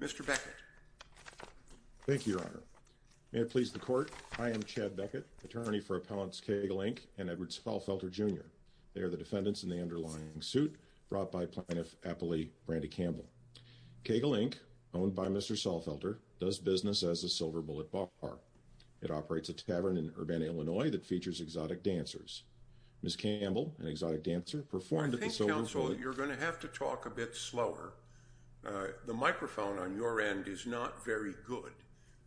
Mr. Beckett Thank you, Your Honor. May it please the court, I am Chad Beckett, attorney for Appellants Keagle Inc. and Edward Salfelter Jr. They are the defendants in the underlying suit brought by Plaintiff Appellee Brandi Campbell. Keagle Inc., owned by Mr. Salfelter, does business as a silver bullet bar. It operates a tavern in Urbana, Illinois that features exotic dancers. Ms. Campbell, an exotic dancer, performed at the silver bullet... Counsel, you're going to have to talk a bit slower. The microphone on your end is not very good.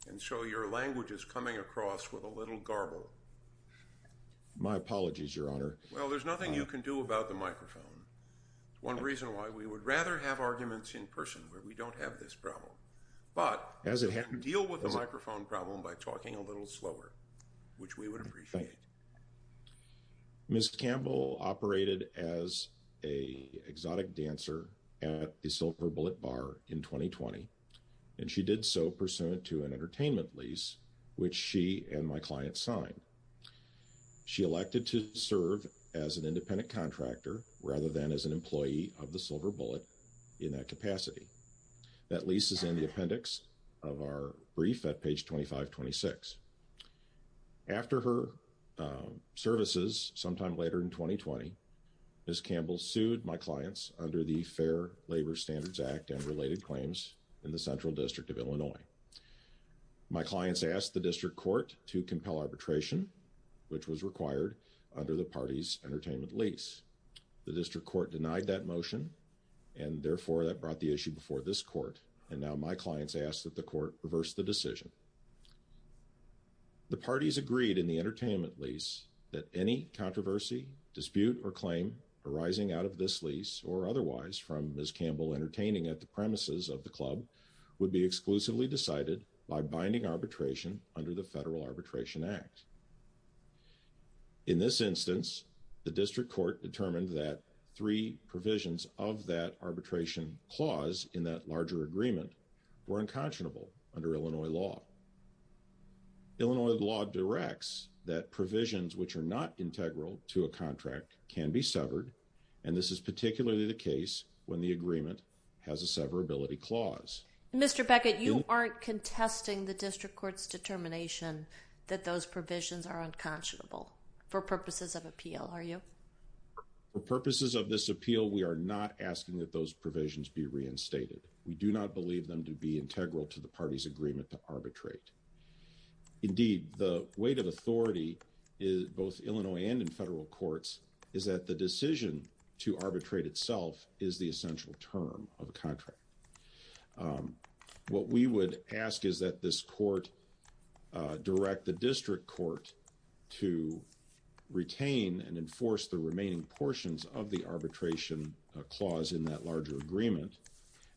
And so your language is coming across with a little garble. My apologies, Your Honor. Well, there's nothing you can do about the microphone. One reason why we would rather have arguments in person where we don't have this problem. But we can deal with the microphone problem by talking a little slower, which we would appreciate. Ms. Campbell operated as an exotic dancer at the silver bullet bar in 2020. And she did so pursuant to an entertainment lease, which she and my client signed. She elected to serve as an independent contractor rather than as an employee of the silver bullet in that capacity. That lease is in the appendix of our brief at page 2526. After her services sometime later in 2020, Ms. Campbell sued my clients under the Fair Labor Standards Act and related claims in the Central District of Illinois. My clients asked the district court to compel arbitration, which was required under the party's entertainment lease. The district court denied that motion, and therefore that brought the issue before this court. And now my clients ask that the court reverse the decision. The parties agreed in the entertainment lease that any controversy, dispute, or claim arising out of this lease or otherwise from Ms. Campbell entertaining at the premises of the club would be exclusively decided by binding arbitration under the Federal Arbitration Act. In this instance, the district court determined that three provisions of that arbitration clause in that larger agreement were unconscionable under Illinois law. Illinois law directs that provisions which are not integral to a contract can be severed, and this is particularly the case when the agreement has a severability clause. Mr. Beckett, you aren't contesting the district court's determination that those provisions are unconscionable for purposes of appeal, are you? For purposes of this appeal, we are not asking that those provisions be reinstated. We do not believe them to be integral to the party's agreement to arbitrate. Indeed, the weight of authority is both Illinois and in federal courts is that the decision to arbitrate itself is the essential term of a contract. What we would ask is that this court direct the district court to retain and enforce the remaining portions of the arbitration clause in that larger agreement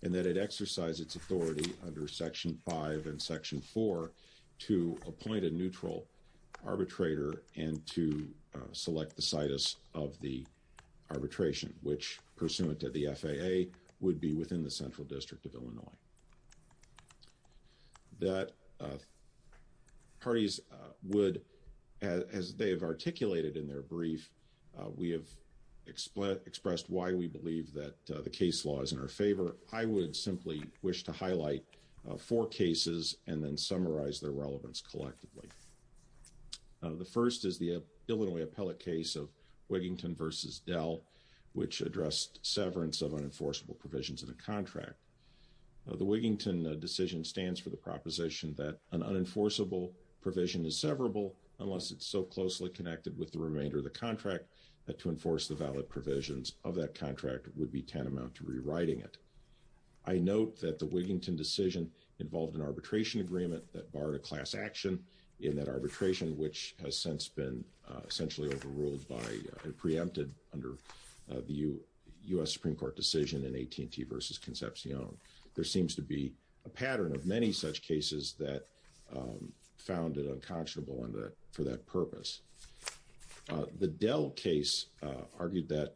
and that it exercise its authority under Section 5 and Section 4 to appoint a neutral arbitrator and to select the situs of the arbitration, which, pursuant to the FAA, would be within the Central District of Illinois. That parties would, as they have articulated in their brief, we have expressed why we believe that the case law is in our favor. I would simply wish to highlight four cases and then summarize their relevance collectively. The first is the Illinois appellate case of Wigington v. Dell, which addressed severance of unenforceable provisions of the contract. The Wigington decision stands for the proposition that an unenforceable provision is severable unless it's so closely connected with the remainder of the contract that to enforce the valid provisions of that contract would be tantamount to rewriting it. I note that the Wigington decision involved an arbitration agreement that barred a class action in that arbitration, which has since been essentially overruled and preempted under the U.S. Supreme Court decision in AT&T v. Concepcion. There seems to be a pattern of many such cases that found it unconscionable for that purpose. The Dell case argued that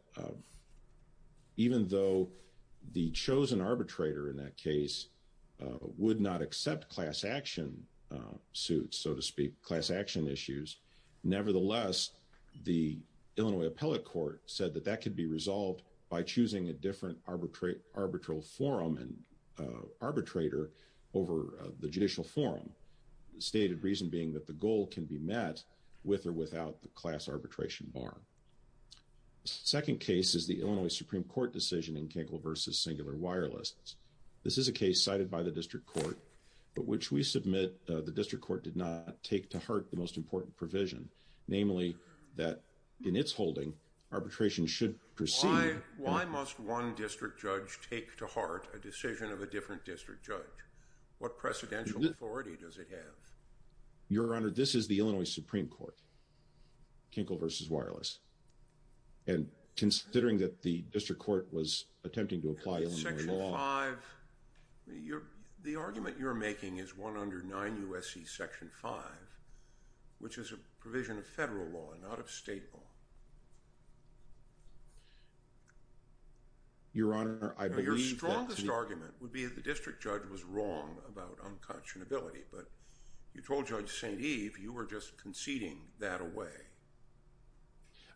even though the chosen arbitrator in that case would not accept class action suits, so to speak, class action issues, nevertheless, the Illinois appellate court said that that could be resolved by choosing a different arbitral forum and arbitrator over the judicial forum. The stated reason being that the goal can be met with or without the class arbitration bar. The second case is the Illinois Supreme Court decision in Kinkle v. Singular Wireless. This is a case cited by the district court, but which we submit that the district court did not take to heart the most important provision, namely that in its holding, arbitration should proceed... Why must one district judge take to heart a decision of a different district judge? What precedential authority does it have? Your Honor, this is the Illinois Supreme Court, Kinkle v. Wireless. And considering that the district court was attempting to apply Illinois law... The argument you're making is one under 9 U.S.C. Section 5, which is a provision of federal law, not of state law. Your Honor, I believe that... Your strongest argument would be that the district judge was wrong about unconscionability, but you told Judge St. Eve you were just conceding that away.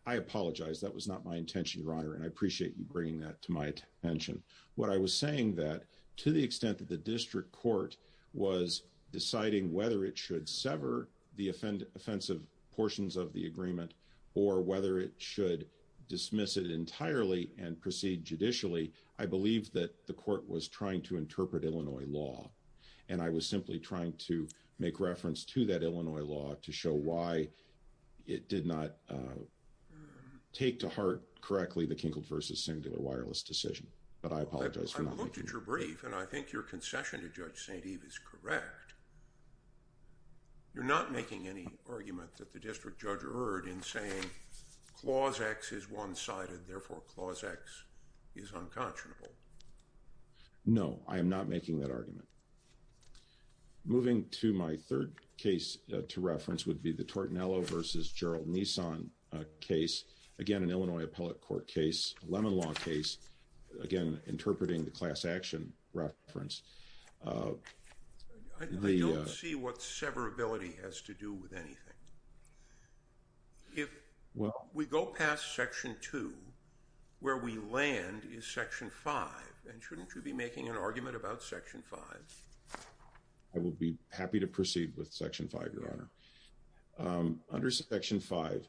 I apologize. That was not my intention, Your Honor, and I appreciate you bringing that to my attention. What I was saying that, to the extent that the district court was deciding whether it should sever the offensive portions of the agreement or whether it should dismiss it entirely and proceed judicially, I believe that the court was trying to interpret Illinois law. And I was simply trying to make reference to that Illinois law to show why it did not take to heart correctly the Kinkle v. Singular Wireless decision. But I apologize for not making... I've looked at your brief, and I think your concession to Judge St. Eve is correct. You're not making any argument that the district judge erred in saying, Clause X is one-sided, therefore Clause X is unconscionable. No, I am not making that argument. Moving to my third case to reference would be the Tortinello v. Gerald Nissan case, again, an Illinois appellate court case, a Lemon Law case, again, interpreting the class action reference. I don't see what severability has to do with anything. If we go past Section 2, where we land is Section 5, and shouldn't you be making an argument about Section 5? I will be happy to proceed with Section 5, Your Honor. Under Section 5,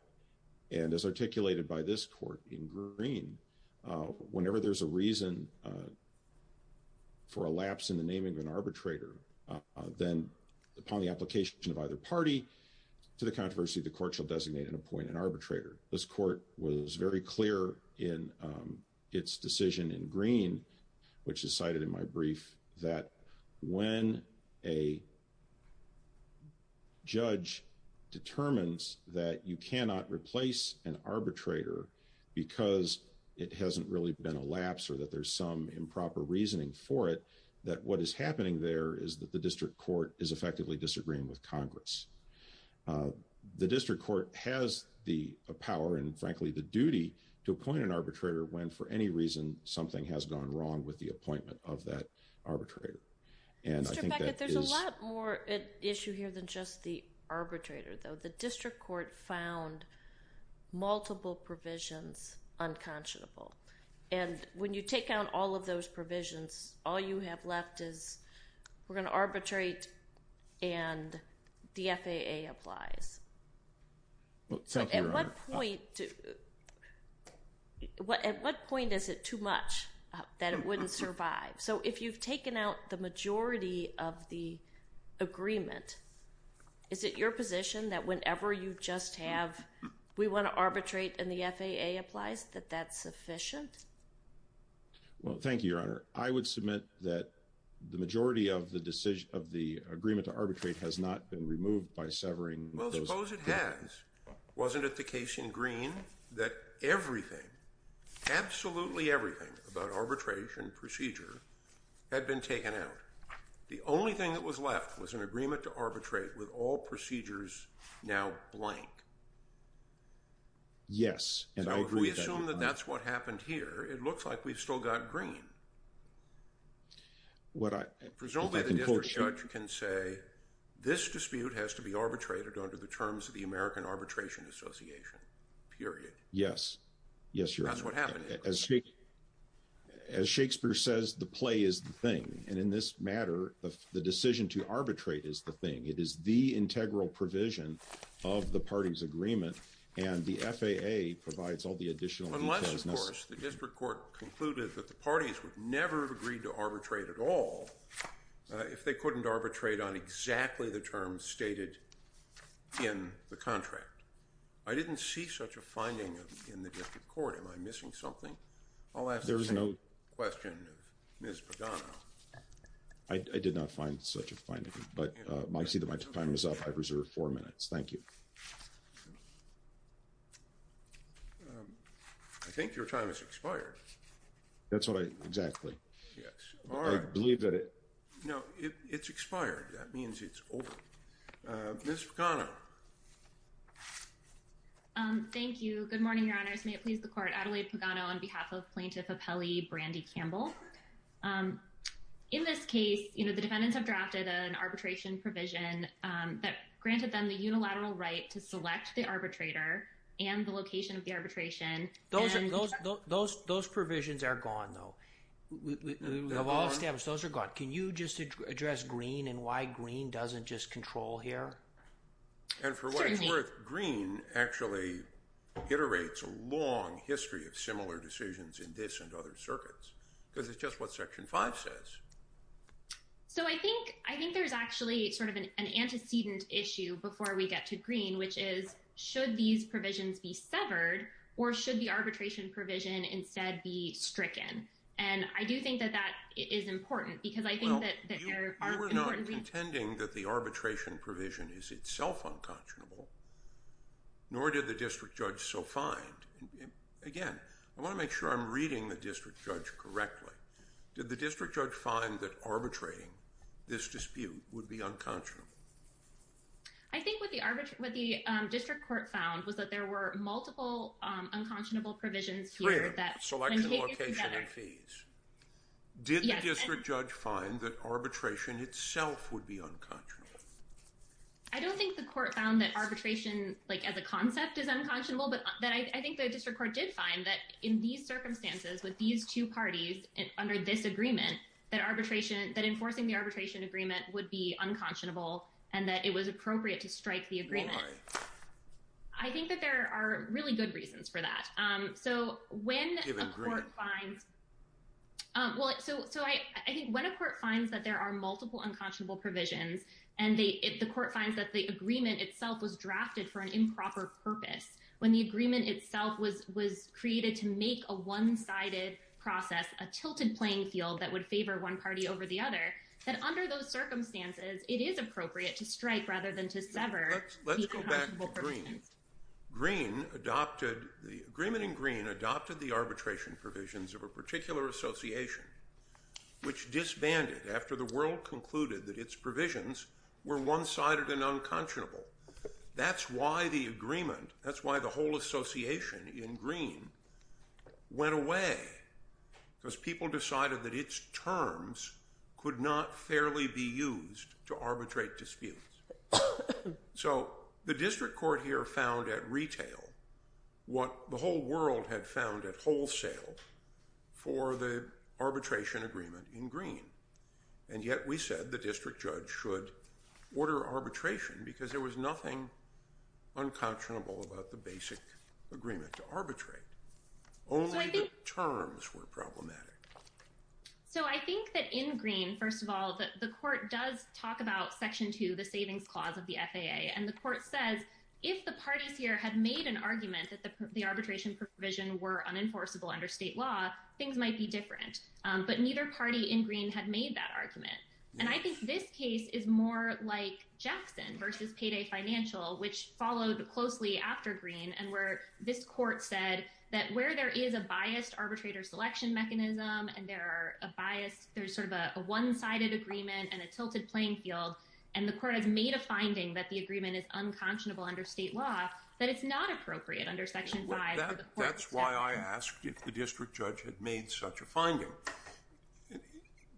and as articulated by this court in green, whenever there's a reason for a lapse in the naming of an arbitrator, then upon the application of either party to the controversy, the court shall designate and appoint an arbitrator. This court was very clear in its decision in green, which is cited in my brief, that when a judge determines that you cannot replace an arbitrator because it hasn't really been a lapse or that there's some improper reasoning for it, that what is happening there is that the district court is effectively disagreeing with Congress. The district court has the power and, frankly, the duty to appoint an arbitrator when, for any reason, something has gone wrong with the appointment of that arbitrator. Mr. Beckett, there's a lot more at issue here than just the arbitrator, though. The district court found multiple provisions unconscionable, and when you take out all of those provisions, all you have left is, we're going to arbitrate and the FAA applies. Thank you, Your Honor. At what point is it too much that it wouldn't survive? So if you've taken out the majority of the agreement, is it your position that whenever you just have, we want to arbitrate and the FAA applies, that that's sufficient? Well, thank you, Your Honor. I would submit that the majority of the agreement to arbitrate has not been removed by severing those. I suppose it has. Wasn't it the case in Green that everything, absolutely everything about arbitration procedure had been taken out? The only thing that was left was an agreement to arbitrate with all procedures now blank. Yes, and I agree with that, Your Honor. So if we assume that that's what happened here, it looks like we've still got Green. Presumably the district judge can say, this dispute has to be arbitrated under the terms of the American Arbitration Association, period. Yes, yes, Your Honor. That's what happened here. As Shakespeare says, the play is the thing, and in this matter, the decision to arbitrate is the thing. It is the integral provision of the party's agreement, and the FAA provides all the additional details. Of course, the district court concluded that the parties would never have agreed to arbitrate at all if they couldn't arbitrate on exactly the terms stated in the contract. I didn't see such a finding in the district court. Am I missing something? I'll ask the same question of Ms. Padano. I did not find such a finding, but I see that my time is up. I've reserved four minutes. Thank you. I think your time has expired. That's what I, exactly. Yes. All right. I believe that it. No, it's expired. That means it's over. Ms. Padano. Thank you. Good morning, Your Honors. May it please the court. Adelaide Padano on behalf of Plaintiff Apelli Brandy Campbell. In this case, the defendants have drafted an arbitration provision that granted them the unilateral right to select the arbitrator and the location of the arbitration. Those provisions are gone, though. We have all established those are gone. Can you just address Greene and why Greene doesn't just control here? And for what it's worth, Greene actually iterates a long history of similar decisions in this and other circuits because it's just what Section 5 says. So I think I think there's actually sort of an antecedent issue before we get to Greene, which is should these provisions be severed or should the arbitration provision instead be stricken? And I do think that that is important because I think that there are. We're not contending that the arbitration provision is itself unconscionable. Nor did the district judge so find. Again, I want to make sure I'm reading the district judge correctly. Did the district judge find that arbitrating this dispute would be unconscionable? I think what the what the district court found was that there were multiple unconscionable provisions here that select location and fees. Did the district judge find that arbitration itself would be unconscionable? I don't think the court found that arbitration like as a concept is unconscionable, but that I think the district court did find that in these circumstances with these two parties under this agreement that arbitration that enforcing the arbitration agreement would be unconscionable and that it was appropriate to strike the agreement. I think that there are really good reasons for that. So when a court finds. So I think when a court finds that there are multiple unconscionable provisions and the court finds that the agreement itself was drafted for an improper purpose. When the agreement itself was was created to make a one sided process, a tilted playing field that would favor one party over the other that under those circumstances, it is appropriate to strike rather than to sever. Let's let's go back to green green adopted the agreement in green adopted the arbitration provisions of a particular association, which disbanded after the world concluded that its provisions were one sided and unconscionable. That's why the agreement. That's why the whole association in green. Went away because people decided that its terms could not fairly be used to arbitrate disputes. So the district court here found at retail what the whole world had found at wholesale for the arbitration agreement in green. And yet we said the district judge should order arbitration because there was nothing unconscionable about the basic agreement to arbitrate only the terms were problematic. So I think that in green. First of all, the court does talk about section to the savings clause of the FAA and the court says if the parties here had made an argument that the arbitration provision were unenforceable under state law, things might be different. But neither party in green had made that argument. And I think this case is more like Jackson versus payday financial, which followed closely after green and where this court said that where there is a biased arbitrator selection mechanism, and there are a bias, there's sort of a one sided agreement and a tilted playing field. And the court has made a finding that the agreement is unconscionable under state law that it's not appropriate under section five. That's why I asked if the district judge had made such a finding.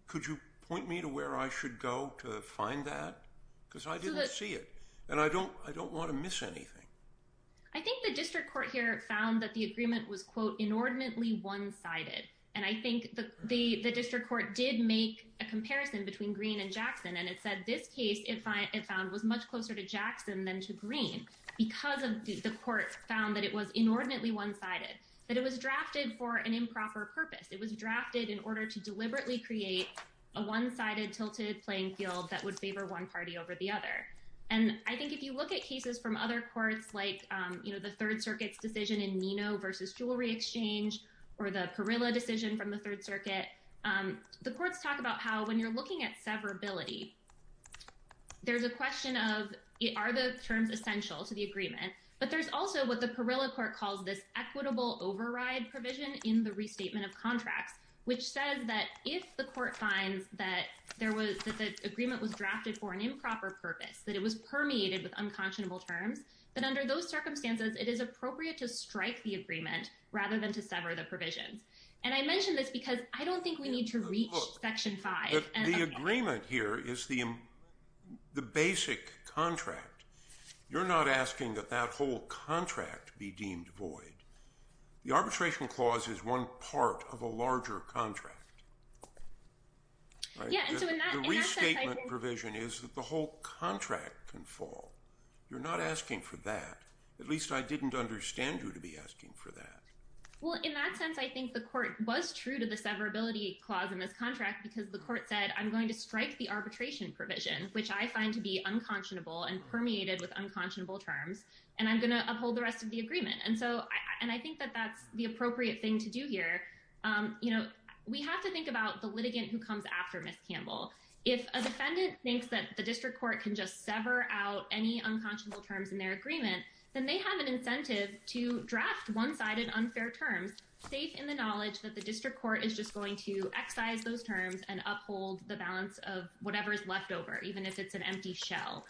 Could you point me to where I should go to find that because I didn't see it and I don't I don't want to miss anything. I think the district court here found that the agreement was quote inordinately one sided. And I think the the district court did make a comparison between green and Jackson and it said this case if I found was much closer to Jackson than to green. Because of the court found that it was inordinately one sided that it was drafted for an improper purpose. It was drafted in order to deliberately create a one sided tilted playing field that would favor one party over the other. And I think if you look at cases from other courts like, you know, the Third Circuit's decision in Nino versus Jewelry Exchange or the Perilla decision from the Third Circuit, the courts talk about how when you're looking at severability. There's a question of are the terms essential to the agreement, but there's also what the Perilla court calls this equitable override provision in the restatement of contracts, which says that if the court finds that there was that the agreement was drafted for an improper purpose that it was permeated with unconscionable terms. But under those circumstances, it is appropriate to strike the agreement rather than to sever the provisions. And I mentioned this because I don't think we need to reach section five and the agreement here is the the basic contract. You're not asking that that whole contract be deemed void. The arbitration clause is one part of a larger contract. The restatement provision is that the whole contract can fall. You're not asking for that. At least I didn't understand you to be asking for that. Well, in that sense, I think the court was true to the severability clause in this contract because the court said, I'm going to strike the arbitration provision, which I find to be unconscionable and permeated with unconscionable terms, and I'm going to uphold the rest of the agreement. And so and I think that that's the appropriate thing to do here. You know, we have to think about the litigant who comes after Miss Campbell. If a defendant thinks that the district court can just sever out any unconscionable terms in their agreement, then they have an incentive to draft one sided unfair terms safe in the knowledge that the district court is just going to excise those terms and uphold the balance of whatever is left over, even if it's an empty shell.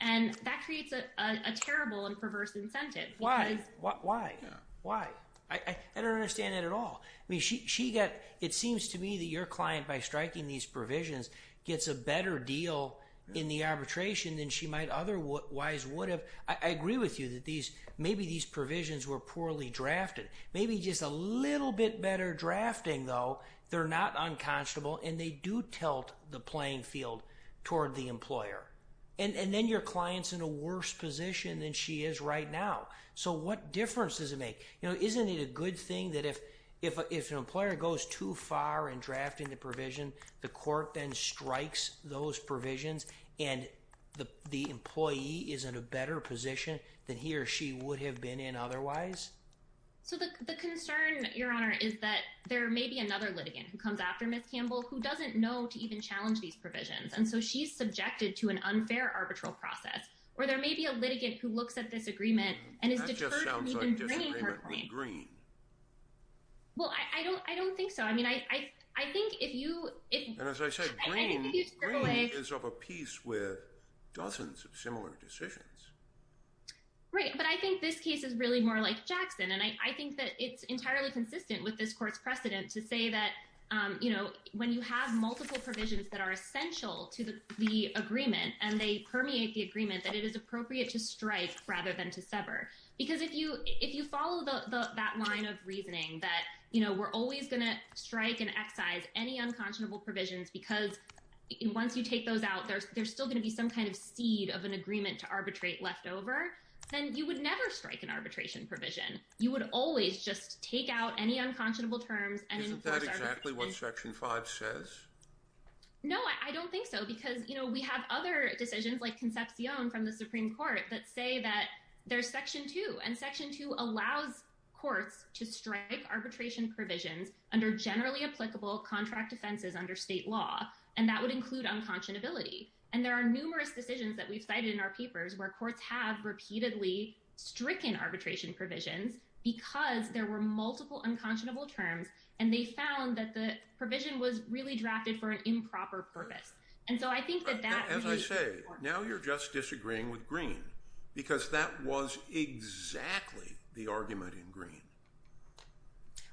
And that creates a terrible and perverse incentive. Why? Why? Why? I don't understand it at all. I mean, she got it seems to me that your client, by striking these provisions, gets a better deal in the arbitration than she might otherwise would have. I agree with you that these maybe these provisions were poorly drafted, maybe just a little bit better drafting, though they're not unconscionable and they do tilt the playing field toward the employer and then your clients in a worse position than she is right now. So what difference does it make? You know, isn't it a good thing that if if if an employer goes too far in drafting the provision, the court then strikes those provisions and the employee is in a better position than he or she would have been in otherwise? So the concern, Your Honor, is that there may be another litigant who comes after Miss Campbell who doesn't know to even challenge these provisions. And so she's subjected to an unfair arbitral process where there may be a litigant who looks at this agreement and is deterred from even bringing her point. Well, I don't I don't think so. I mean, I, I think if you if I said is of a piece with dozens of similar decisions. Right. But I think this case is really more like Jackson. And I think that it's entirely consistent with this court's precedent to say that, you know, when you have multiple provisions that are essential to the agreement and they permeate the agreement, that it is appropriate to strike rather than to sever. Because if you if you follow that line of reasoning that, you know, we're always going to strike and excise any unconscionable provisions because once you take those out, there's still going to be some kind of seed of an agreement to arbitrate leftover. Then you would never strike an arbitration provision. You would always just take out any unconscionable terms. Exactly what section five says. No, I don't think so. Because, you know, we have other decisions like conception from the Supreme Court that say that there's section two and section two allows courts to strike arbitration provisions under generally applicable contract defenses under state law. And that would include unconscionability. And there are numerous decisions that we've cited in our papers where courts have repeatedly stricken arbitration provisions because there were multiple unconscionable terms. And they found that the provision was really drafted for an improper purpose. And so I think that that, as I say, now you're just disagreeing with green, because that was exactly the argument in green.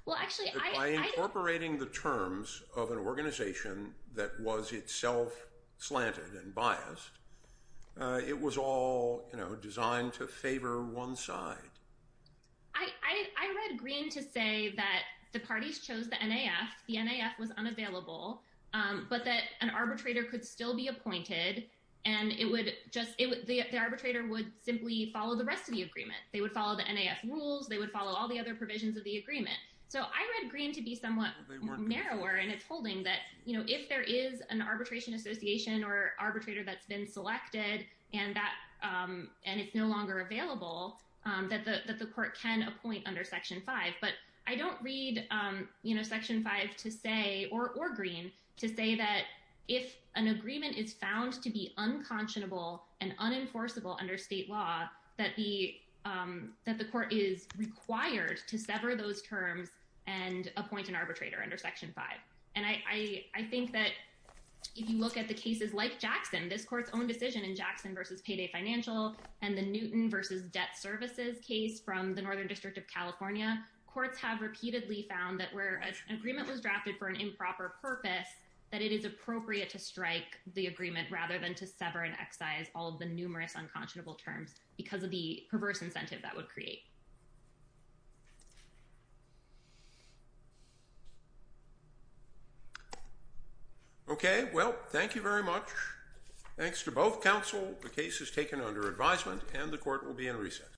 By incorporating the terms of an organization that was itself slanted and biased, it was all designed to favor one side. I read green to say that the parties chose the NAF, the NAF was unavailable, but that an arbitrator could still be appointed. And it would just the arbitrator would simply follow the rest of the agreement, they would follow the NAF rules, they would follow all the other provisions of the agreement. So I read green to be somewhat narrower, and it's holding that, you know, if there is an arbitration association or arbitrator that's been selected, and that, and it's no longer available, that the court can appoint under section five, but I don't read, you know, section five to say or green to say that if an agreement is found to be unconscionable and unenforceable under state law, that the, that the court is required to sever those terms. And appoint an arbitrator under section five. And I think that if you look at the cases like Jackson, this court's own decision in Jackson versus payday financial, and the Newton versus debt services case from the Northern District of California, courts have repeatedly found that where an agreement was drafted for an improper purpose, that it is appropriate to strike the agreement rather than to sever and excise all of the numerous unconscionable terms, because of the perverse incentive that would create. Okay, well, thank you very much. Thanks to both counsel. The case is taken under advisement, and the court will be in recess.